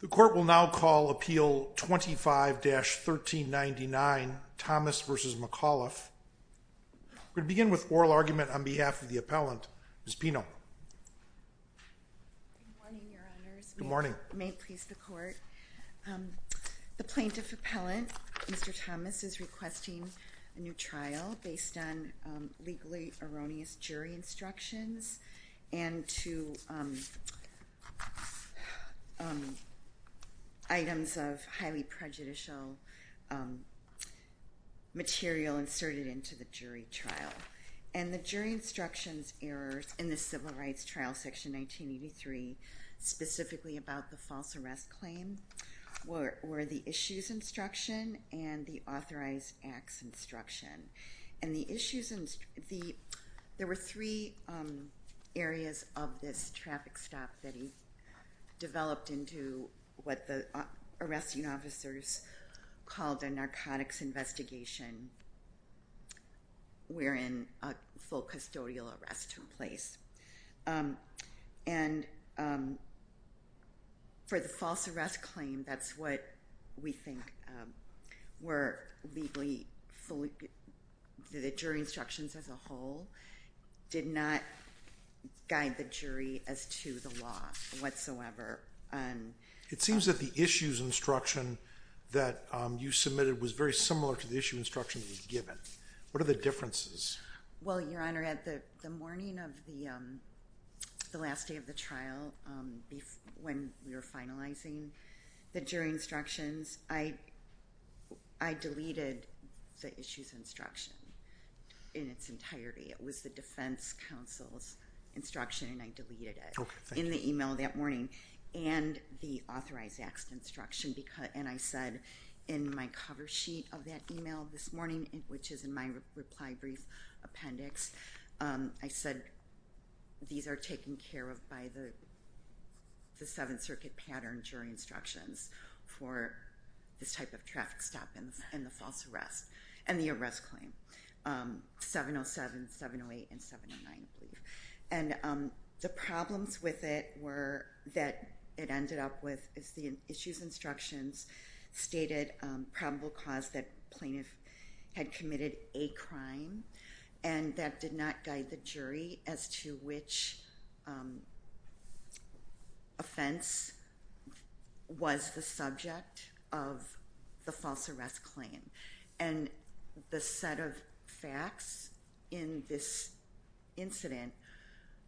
The Court will now call Appeal 25-1399 Thomas v. McAuliffe. We'll begin with oral argument on behalf of the appellant, Ms. Pino. Good morning, Your Honors. Good morning. May it please the Court. The plaintiff appellant, Mr. Thomas, is requesting a new trial based on legally erroneous jury instructions and to items of highly prejudicial material inserted into the jury trial. And the jury instructions errors in the Civil Rights Trial Section 1983, specifically about the false arrest claim, were the Issues Instruction and the Authorized Acts Instruction. And the Issues Instruction, there were three areas of this traffic stop that he developed into what the arresting officers called a narcotics investigation, wherein a full custodial arrest took place. And for the false arrest claim, that's what we think were legally fully— the jury instructions as a whole did not guide the jury as to the law whatsoever. It seems that the Issues Instruction that you submitted was very similar to the Issues Instruction that was given. What are the differences? Well, Your Honor, at the morning of the last day of the trial, when we were finalizing the jury instructions, I deleted the Issues Instruction in its entirety. It was the Defense Counsel's instruction, and I deleted it in the email that morning and the Authorized Acts Instruction. And I said in my cover sheet of that email this morning, which is in my reply brief appendix, I said these are taken care of by the Seventh Circuit pattern jury instructions for this type of traffic stop in the false arrest and the arrest claim, 707, 708, and 709, I believe. And the problems with it were that it ended up with, as the Issues Instructions stated, probable cause that plaintiff had committed a crime, and that did not guide the jury as to which offense was the subject of the false arrest claim. And the set of facts in this incident,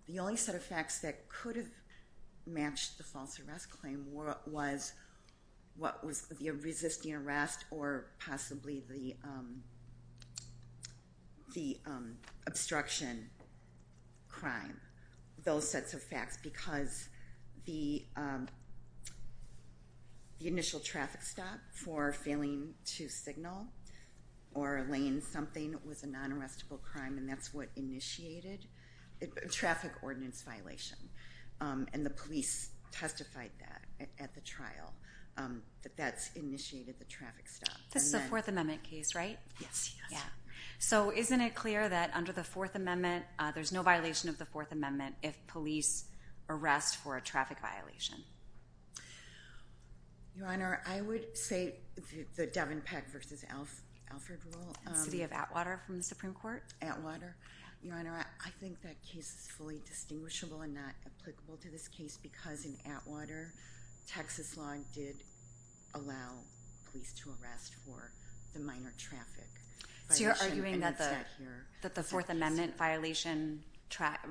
the only set of facts that could have matched the false arrest claim was what was the resisting arrest or possibly the obstruction crime, those sets of facts, because the initial traffic stop for failing to signal or laying something was a non-arrestable crime, and that's what initiated a traffic ordinance violation. And the police testified that at the trial, that that's initiated the traffic stop. This is a Fourth Amendment case, right? Yes. So isn't it clear that under the Fourth Amendment, there's no violation of the Fourth Amendment if police arrest for a traffic violation? Your Honor, I would say the Devon Peck v. Alfred rule. The city of Atwater from the Supreme Court? Atwater. Your Honor, I think that case is fully distinguishable and not applicable to this case because in Atwater, Texas law did allow police to arrest for the minor traffic. So you're arguing that the Fourth Amendment violation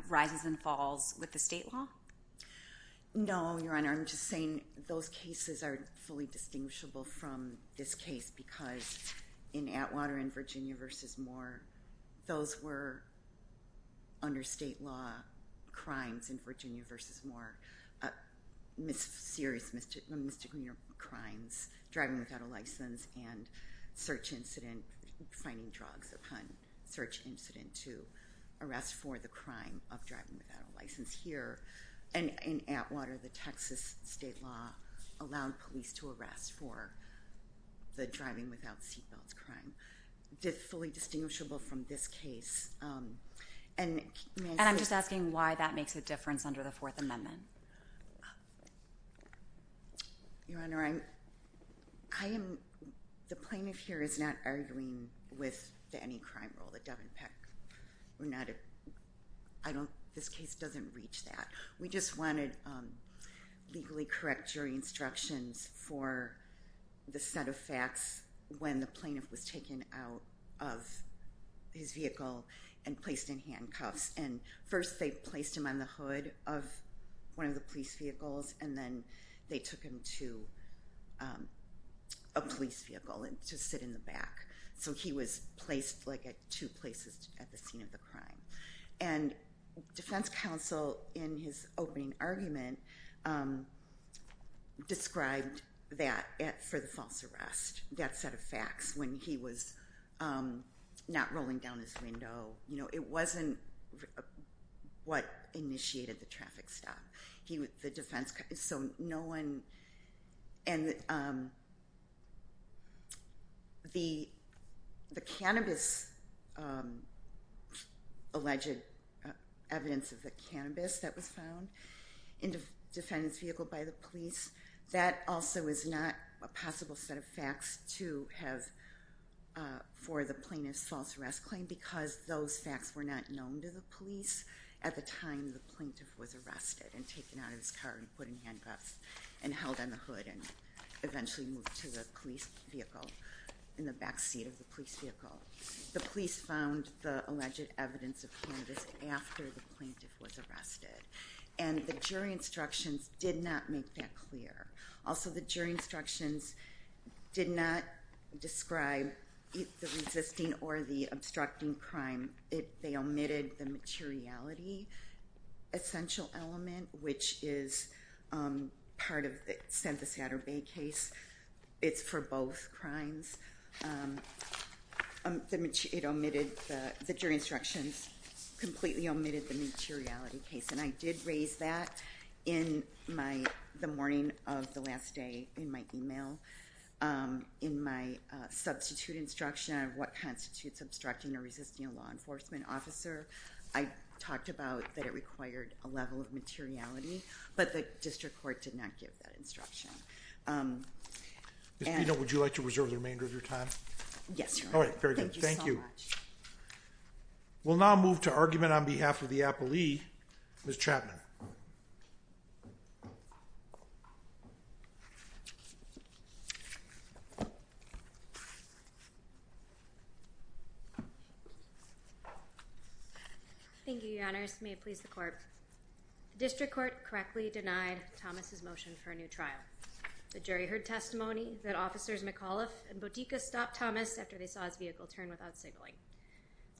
rises and falls with the state law? No, Your Honor. I'm just saying those cases are fully distinguishable from this case because in Atwater and Virginia v. Moore, those were under state law crimes in Virginia v. Moore, serious misdemeanor crimes, driving without a license and search incident, finding drugs upon search incident to arrest for the crime of driving without a license. Here in Atwater, the Texas state law allowed police to arrest for the driving without seatbelts crime. It's fully distinguishable from this case. And I'm just asking why that makes a difference under the Fourth Amendment. Your Honor, the plaintiff here is not arguing with any crime rule, the Devon Peck. This case doesn't reach that. We just wanted legally correct jury instructions for the set of facts when the plaintiff was taken out of his vehicle and placed in handcuffs. And first they placed him on the hood of one of the police vehicles and then they took him to a police vehicle to sit in the back. So he was placed like at two places at the scene of the crime. And defense counsel in his opening argument described that for the false arrest, that set of facts when he was not rolling down his window. It wasn't what initiated the traffic stop. So no one and the cannabis alleged evidence of the cannabis that was found in the defendant's vehicle by the police, that also is not a possible set of facts to have for the plaintiff's false arrest claim because those facts were not known to the police at the time the plaintiff was arrested and taken out of his car and put in handcuffs and held on the hood and eventually moved to the police vehicle, in the back seat of the police vehicle. The police found the alleged evidence of cannabis after the plaintiff was arrested. And the jury instructions did not make that clear. Also, the jury instructions did not describe the resisting or the obstructing crime. They omitted the materiality essential element, which is part of the Santa Satter Bay case. It's for both crimes. The jury instructions completely omitted the materiality case. And I did raise that in the morning of the last day in my email in my substitute instruction of what constitutes obstructing or resisting a law enforcement officer. I talked about that it required a level of materiality, but the district court did not give that instruction. Ms. Bito, would you like to reserve the remainder of your time? Yes, Your Honor. All right, very good. Thank you. Thank you so much. We'll now move to argument on behalf of the appellee, Ms. Chapman. Thank you, Your Honors. May it please the court. The district court correctly denied Thomas' motion for a new trial. The jury heard testimony that officers McAuliffe and Bodega stopped Thomas after they saw his vehicle turn without signaling.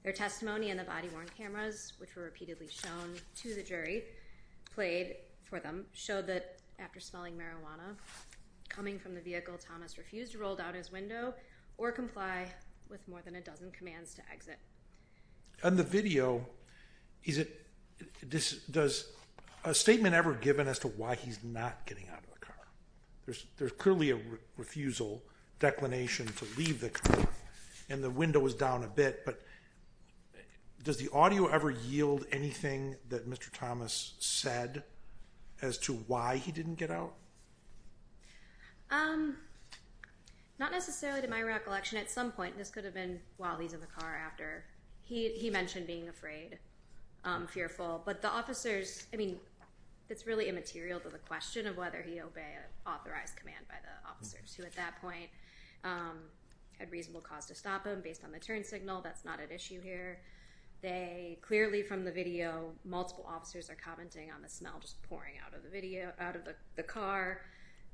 Their testimony in the body-worn cameras, which were repeatedly shown to the jury, played for them, showed that after smelling marijuana coming from the vehicle, Thomas refused to roll down his window or comply with more than a dozen commands to exit. On the video, does a statement ever given as to why he's not getting out of the car? There's clearly a refusal declination to leave the car, and the window was down a bit, but does the audio ever yield anything that Mr. Thomas said as to why he didn't get out? Not necessarily to my recollection. At some point, this could have been while he's in the car after he mentioned being afraid, fearful. But the officers, I mean, it's really immaterial to the question of whether he obeyed an authorized command by the officers who at that point had reasonable cause to stop him based on the turn signal. That's not at issue here. Clearly from the video, multiple officers are commenting on the smell just pouring out of the car.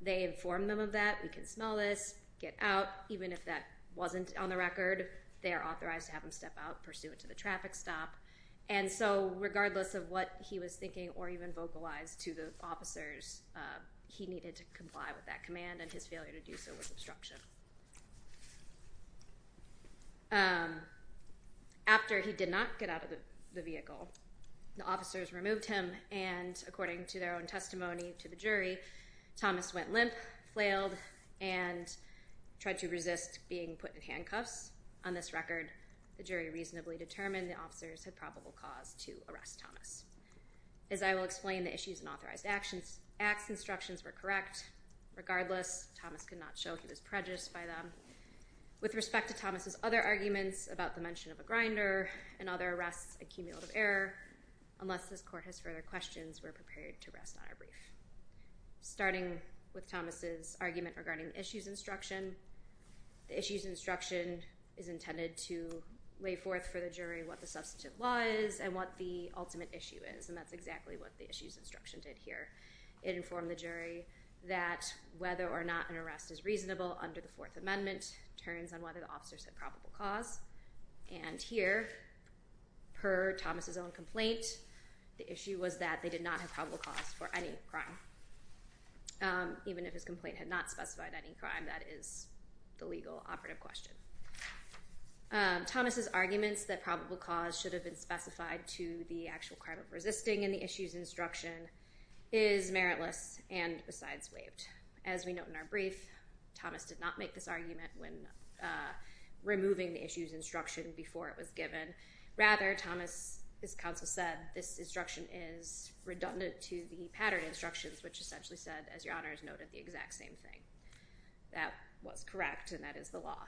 They inform them of that. We can smell this. Get out. Even if that wasn't on the record, they are authorized to have him step out pursuant to the traffic stop. And so regardless of what he was thinking or even vocalized to the officers, he needed to comply with that command, and his failure to do so was obstruction. After he did not get out of the vehicle, the officers removed him, and according to their own testimony to the jury, Thomas went limp, flailed, and tried to resist being put in handcuffs. On this record, the jury reasonably determined the officers had probable cause to arrest Thomas. As I will explain, the issues and authorized actions instructions were correct. Regardless, Thomas could not show he was prejudiced by them. With respect to Thomas's other arguments about the mention of a grinder and other arrests, unless this court has further questions, we're prepared to rest on our brief. Starting with Thomas's argument regarding the issues instruction, the issues instruction is intended to lay forth for the jury what the substantive law is and what the ultimate issue is, and that's exactly what the issues instruction did here. It informed the jury that whether or not an arrest is reasonable under the Fourth Amendment turns on whether the officers had probable cause. And here, per Thomas's own complaint, the issue was that they did not have probable cause for any crime. Even if his complaint had not specified any crime, that is the legal operative question. Thomas's arguments that probable cause should have been specified to the actual crime of resisting in the issues instruction is meritless and besides waived. As we note in our brief, Thomas did not make this argument when removing the issues instruction before it was given. Rather, Thomas's counsel said this instruction is redundant to the pattern instructions, which essentially said, as your honors noted, the exact same thing. That was correct, and that is the law.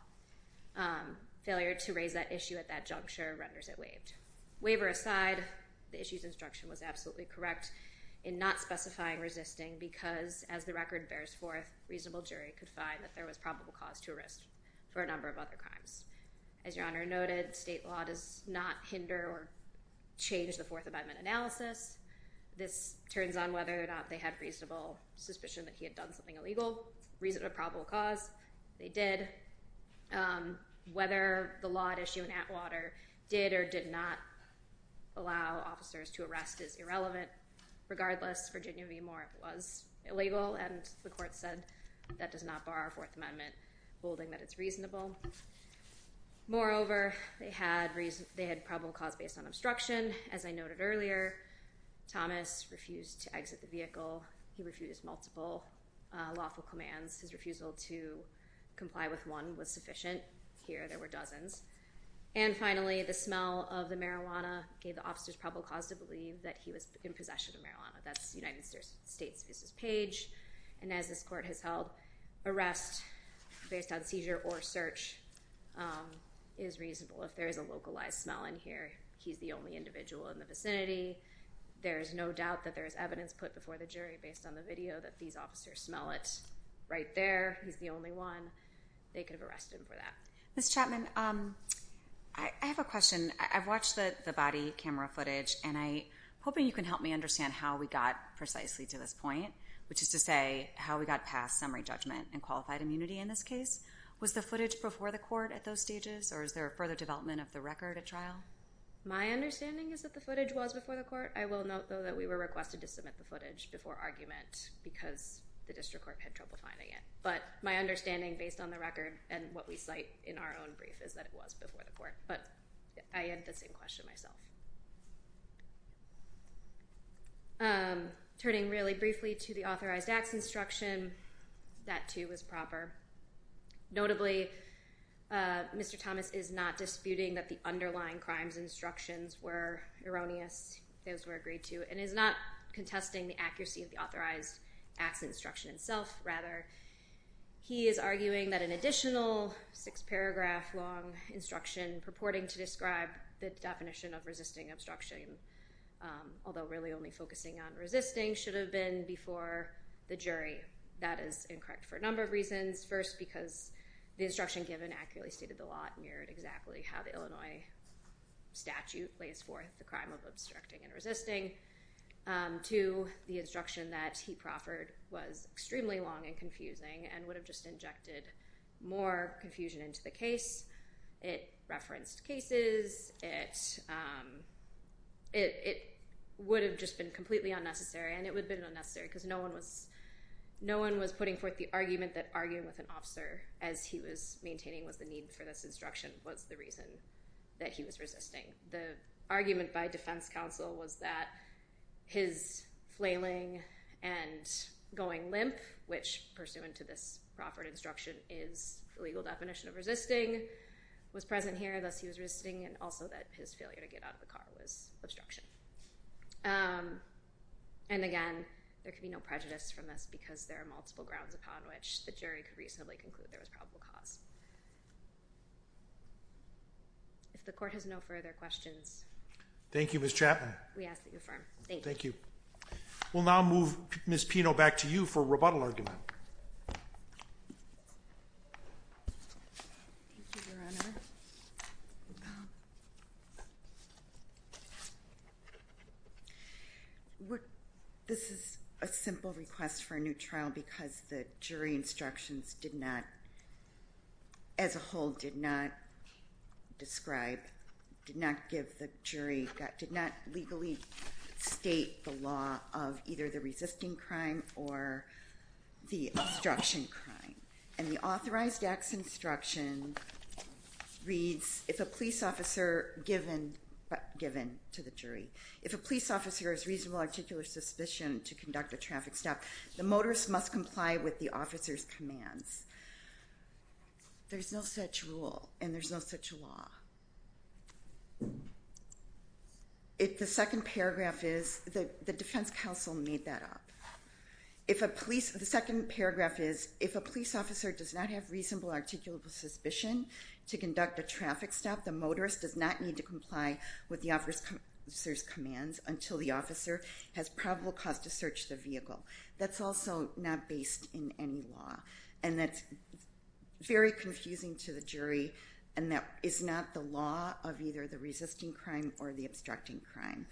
Failure to raise that issue at that juncture renders it waived. Waiver aside, the issues instruction was absolutely correct in not specifying resisting because, as the record bears forth, reasonable jury could find that there was probable cause to arrest for a number of other crimes. As your honor noted, state law does not hinder or change the Fourth Amendment analysis. This turns on whether or not they had reasonable suspicion that he had done something illegal, reasonable probable cause. They did. Whether the law at issue in Atwater did or did not allow officers to arrest is irrelevant. Regardless, Virginia v. Moore was illegal, and the court said that does not bar a Fourth Amendment holding that it's reasonable. Moreover, they had probable cause based on obstruction. As I noted earlier, Thomas refused to exit the vehicle. He refused multiple lawful commands. His refusal to comply with one was sufficient. Here, there were dozens. And finally, the smell of the marijuana gave the officers probable cause to believe that he was in possession of marijuana. That's United States v. Page. And as this court has held, arrest based on seizure or search is reasonable. If there is a localized smell in here, he's the only individual in the vicinity. There is no doubt that there is evidence put before the jury based on the video that these officers smell it right there. He's the only one. They could have arrested him for that. Ms. Chapman, I have a question. I've watched the body camera footage, and I'm hoping you can help me understand how we got precisely to this point, which is to say how we got past summary judgment and qualified immunity in this case. Was the footage before the court at those stages, or is there a further development of the record at trial? My understanding is that the footage was before the court. I will note, though, that we were requested to submit the footage before argument because the district court had trouble finding it. But my understanding based on the record and what we cite in our own brief is that it was before the court. But I had the same question myself. Turning really briefly to the authorized acts instruction, that, too, was proper. Notably, Mr. Thomas is not disputing that the underlying crimes instructions were erroneous, if those were agreed to, and is not contesting the accuracy of the authorized acts instruction itself. Rather, he is arguing that an additional six-paragraph long instruction purporting to describe the definition of resisting obstruction, although really only focusing on resisting, should have been before the jury. That is incorrect for a number of reasons. First, because the instruction given accurately stated the law and mirrored exactly how the Illinois statute lays forth the crime of obstructing and resisting. Two, the instruction that he proffered was extremely long and confusing and would have just injected more confusion into the case. It referenced cases. It would have just been completely unnecessary. And it would have been unnecessary because no one was putting forth the argument that arguing with an officer, as he was maintaining was the need for this instruction, was the reason that he was resisting. The argument by defense counsel was that his flailing and going limp, which, pursuant to this proffered instruction, is the legal definition of resisting, was present here, thus he was resisting, and also that his failure to get out of the car was obstruction. And, again, there can be no prejudice from this because there are multiple grounds upon which the jury could reasonably conclude there was probable cause. If the court has no further questions. Thank you, Ms. Chapman. We ask that you affirm. Thank you. Thank you. We'll now move Ms. Pino back to you for rebuttal argument. This is a simple request for a new trial because the jury instructions did not, as a whole, did not describe, did not give the jury, did not legally state the law of either the resisting crime or the obstruction crime. And the authorized acts instruction reads, if a police officer, given to the jury, if a police officer has reasonable articular suspicion to conduct a traffic stop, the motorist must comply with the officer's commands. There's no such rule, and there's no such law. If the second paragraph is, the defense counsel made that up. If a police, the second paragraph is, if a police officer does not have reasonable articular suspicion to conduct a traffic stop, the motorist does not need to comply with the officer's commands until the officer has probable cause to search the vehicle. That's also not based in any law. And that's very confusing to the jury, and that is not the law of either the resisting crime or the obstructing crime.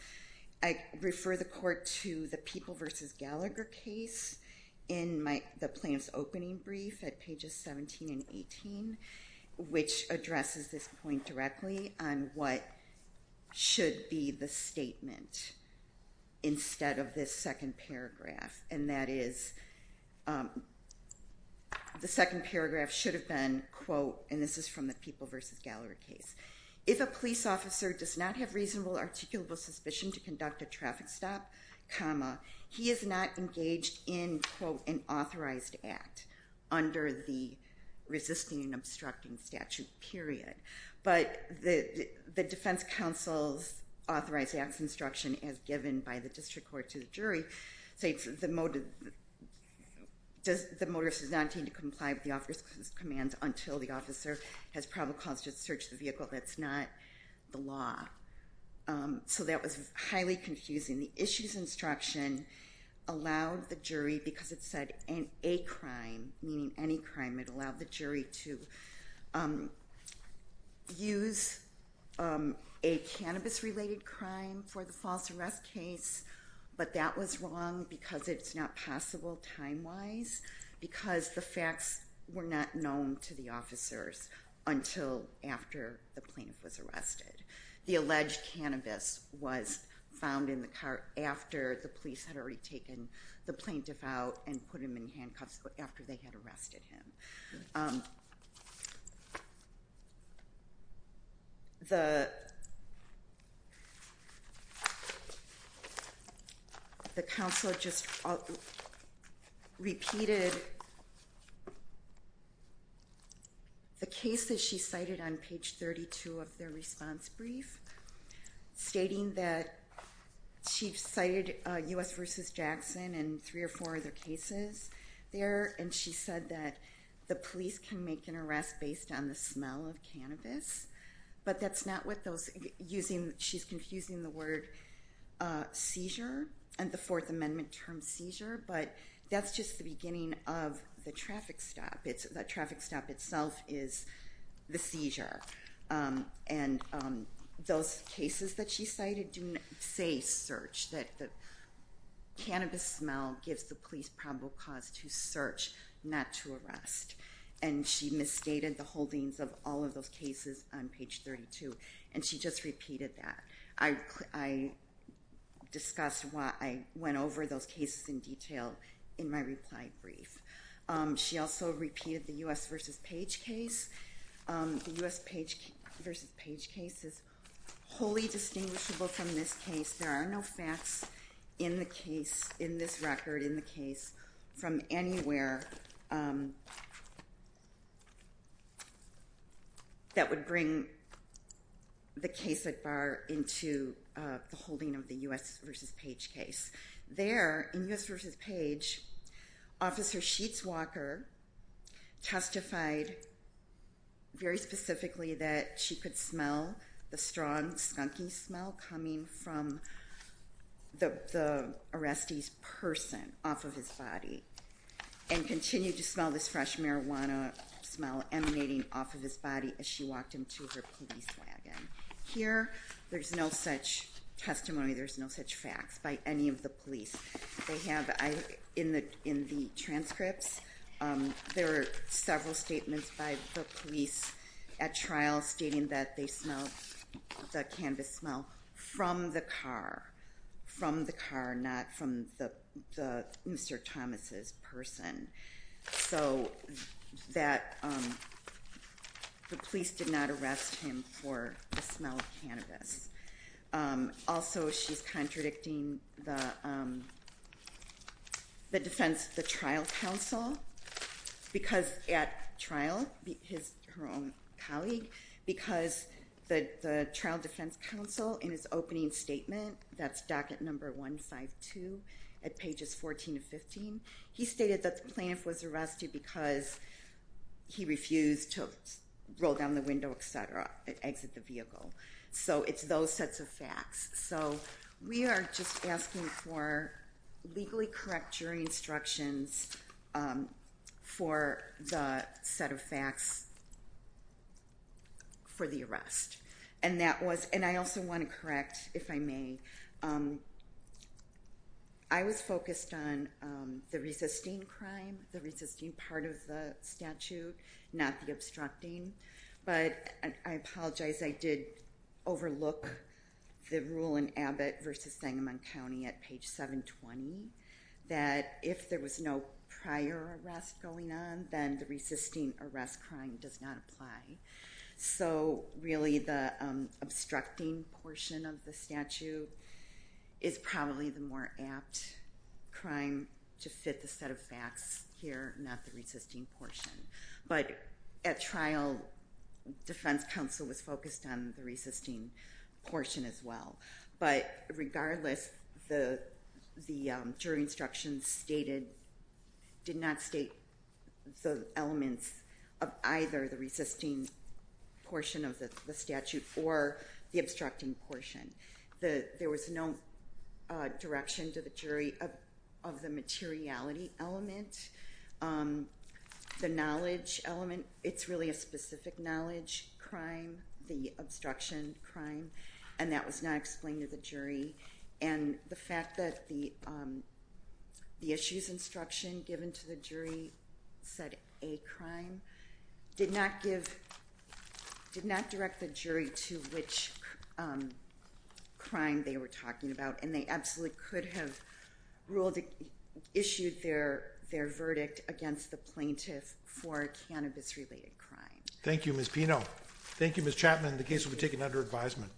I refer the court to the People v. Gallagher case in the plaintiff's opening brief at pages 17 and 18, which addresses this point directly on what should be the statement instead of this second paragraph. And that is, the second paragraph should have been, quote, and this is from the People v. Gallagher case, if a police officer does not have reasonable articular suspicion to conduct a traffic stop, comma, he is not engaged in, quote, an authorized act under the resisting and obstructing statute, period. But the defense counsel's authorized acts instruction as given by the district court to the jury states, the motorist does not need to comply with the officer's commands until the officer has probable cause to search the vehicle. That's not the law. So that was highly confusing. The issue's instruction allowed the jury, because it said a crime, meaning any crime, it allowed the jury to use a cannabis-related crime for the false arrest case, but that was wrong because it's not possible time-wise because the facts were not known to the officers until after the plaintiff was arrested. The alleged cannabis was found in the car after the police had already taken the plaintiff out and put him in handcuffs after they had arrested him. The counsel just repeated the case that she cited on page 32 of their response brief, stating that she cited U.S. v. Jackson and three or four other cases there, and she said that the police can make an arrest based on the smell of cannabis, but that's not what those using, she's confusing the word seizure and the Fourth Amendment term seizure, but that's just the beginning of the traffic stop. The traffic stop itself is the seizure, and those cases that she cited do not say search, that the cannabis smell gives the police probable cause to search, not to arrest, and she misstated the holdings of all of those cases on page 32, and she just repeated that. I discussed why I went over those cases in detail in my reply brief. She also repeated the U.S. v. Page case. The U.S. v. Page case is wholly distinguishable from this case. There are no facts in the case, in this record, in the case from anywhere that would bring the case at bar into the holding of the U.S. v. Page case. There, in U.S. v. Page, Officer Sheets Walker testified very specifically that she could smell the strong skunky smell coming from the arrestee's person off of his body and continued to smell this fresh marijuana smell emanating off of his body as she walked into her police wagon. Here, there's no such testimony, there's no such facts by any of the police. They have, in the transcripts, there are several statements by the police at trial stating that they smelled the cannabis smell from the car, from the car, not from Mr. Thomas's person. So the police did not arrest him for the smell of cannabis. Also, she's contradicting the defense, the trial counsel, because at trial, her own colleague, because the trial defense counsel, in his opening statement, that's docket number 152 at pages 14 and 15, he stated that the plaintiff was arrested because he refused to roll down the window, et cetera, exit the vehicle. So it's those sets of facts. So we are just asking for legally correct jury instructions for the set of facts for the arrest. And I also want to correct, if I may, I was focused on the resisting crime, the resisting part of the statute, not the obstructing. But I apologize, I did overlook the rule in Abbott v. Sangamon County at page 720, that if there was no prior arrest going on, then the resisting arrest crime does not apply. So really, the obstructing portion of the statute is probably the more apt crime to fit the set of facts here, not the resisting portion. But at trial, defense counsel was focused on the resisting portion as well. But regardless, the jury instructions did not state the elements of either the resisting portion of the statute or the obstructing portion. There was no direction to the jury of the materiality element. The knowledge element, it's really a specific knowledge crime, the obstruction crime, and that was not explained to the jury. And the fact that the issues instruction given to the jury said a crime, did not direct the jury to which crime they were talking about. And they absolutely could have issued their verdict against the plaintiff for a cannabis-related crime. Thank you, Ms. Pino. Thank you, Ms. Chapman. The case will be taken under advisement. Thank you.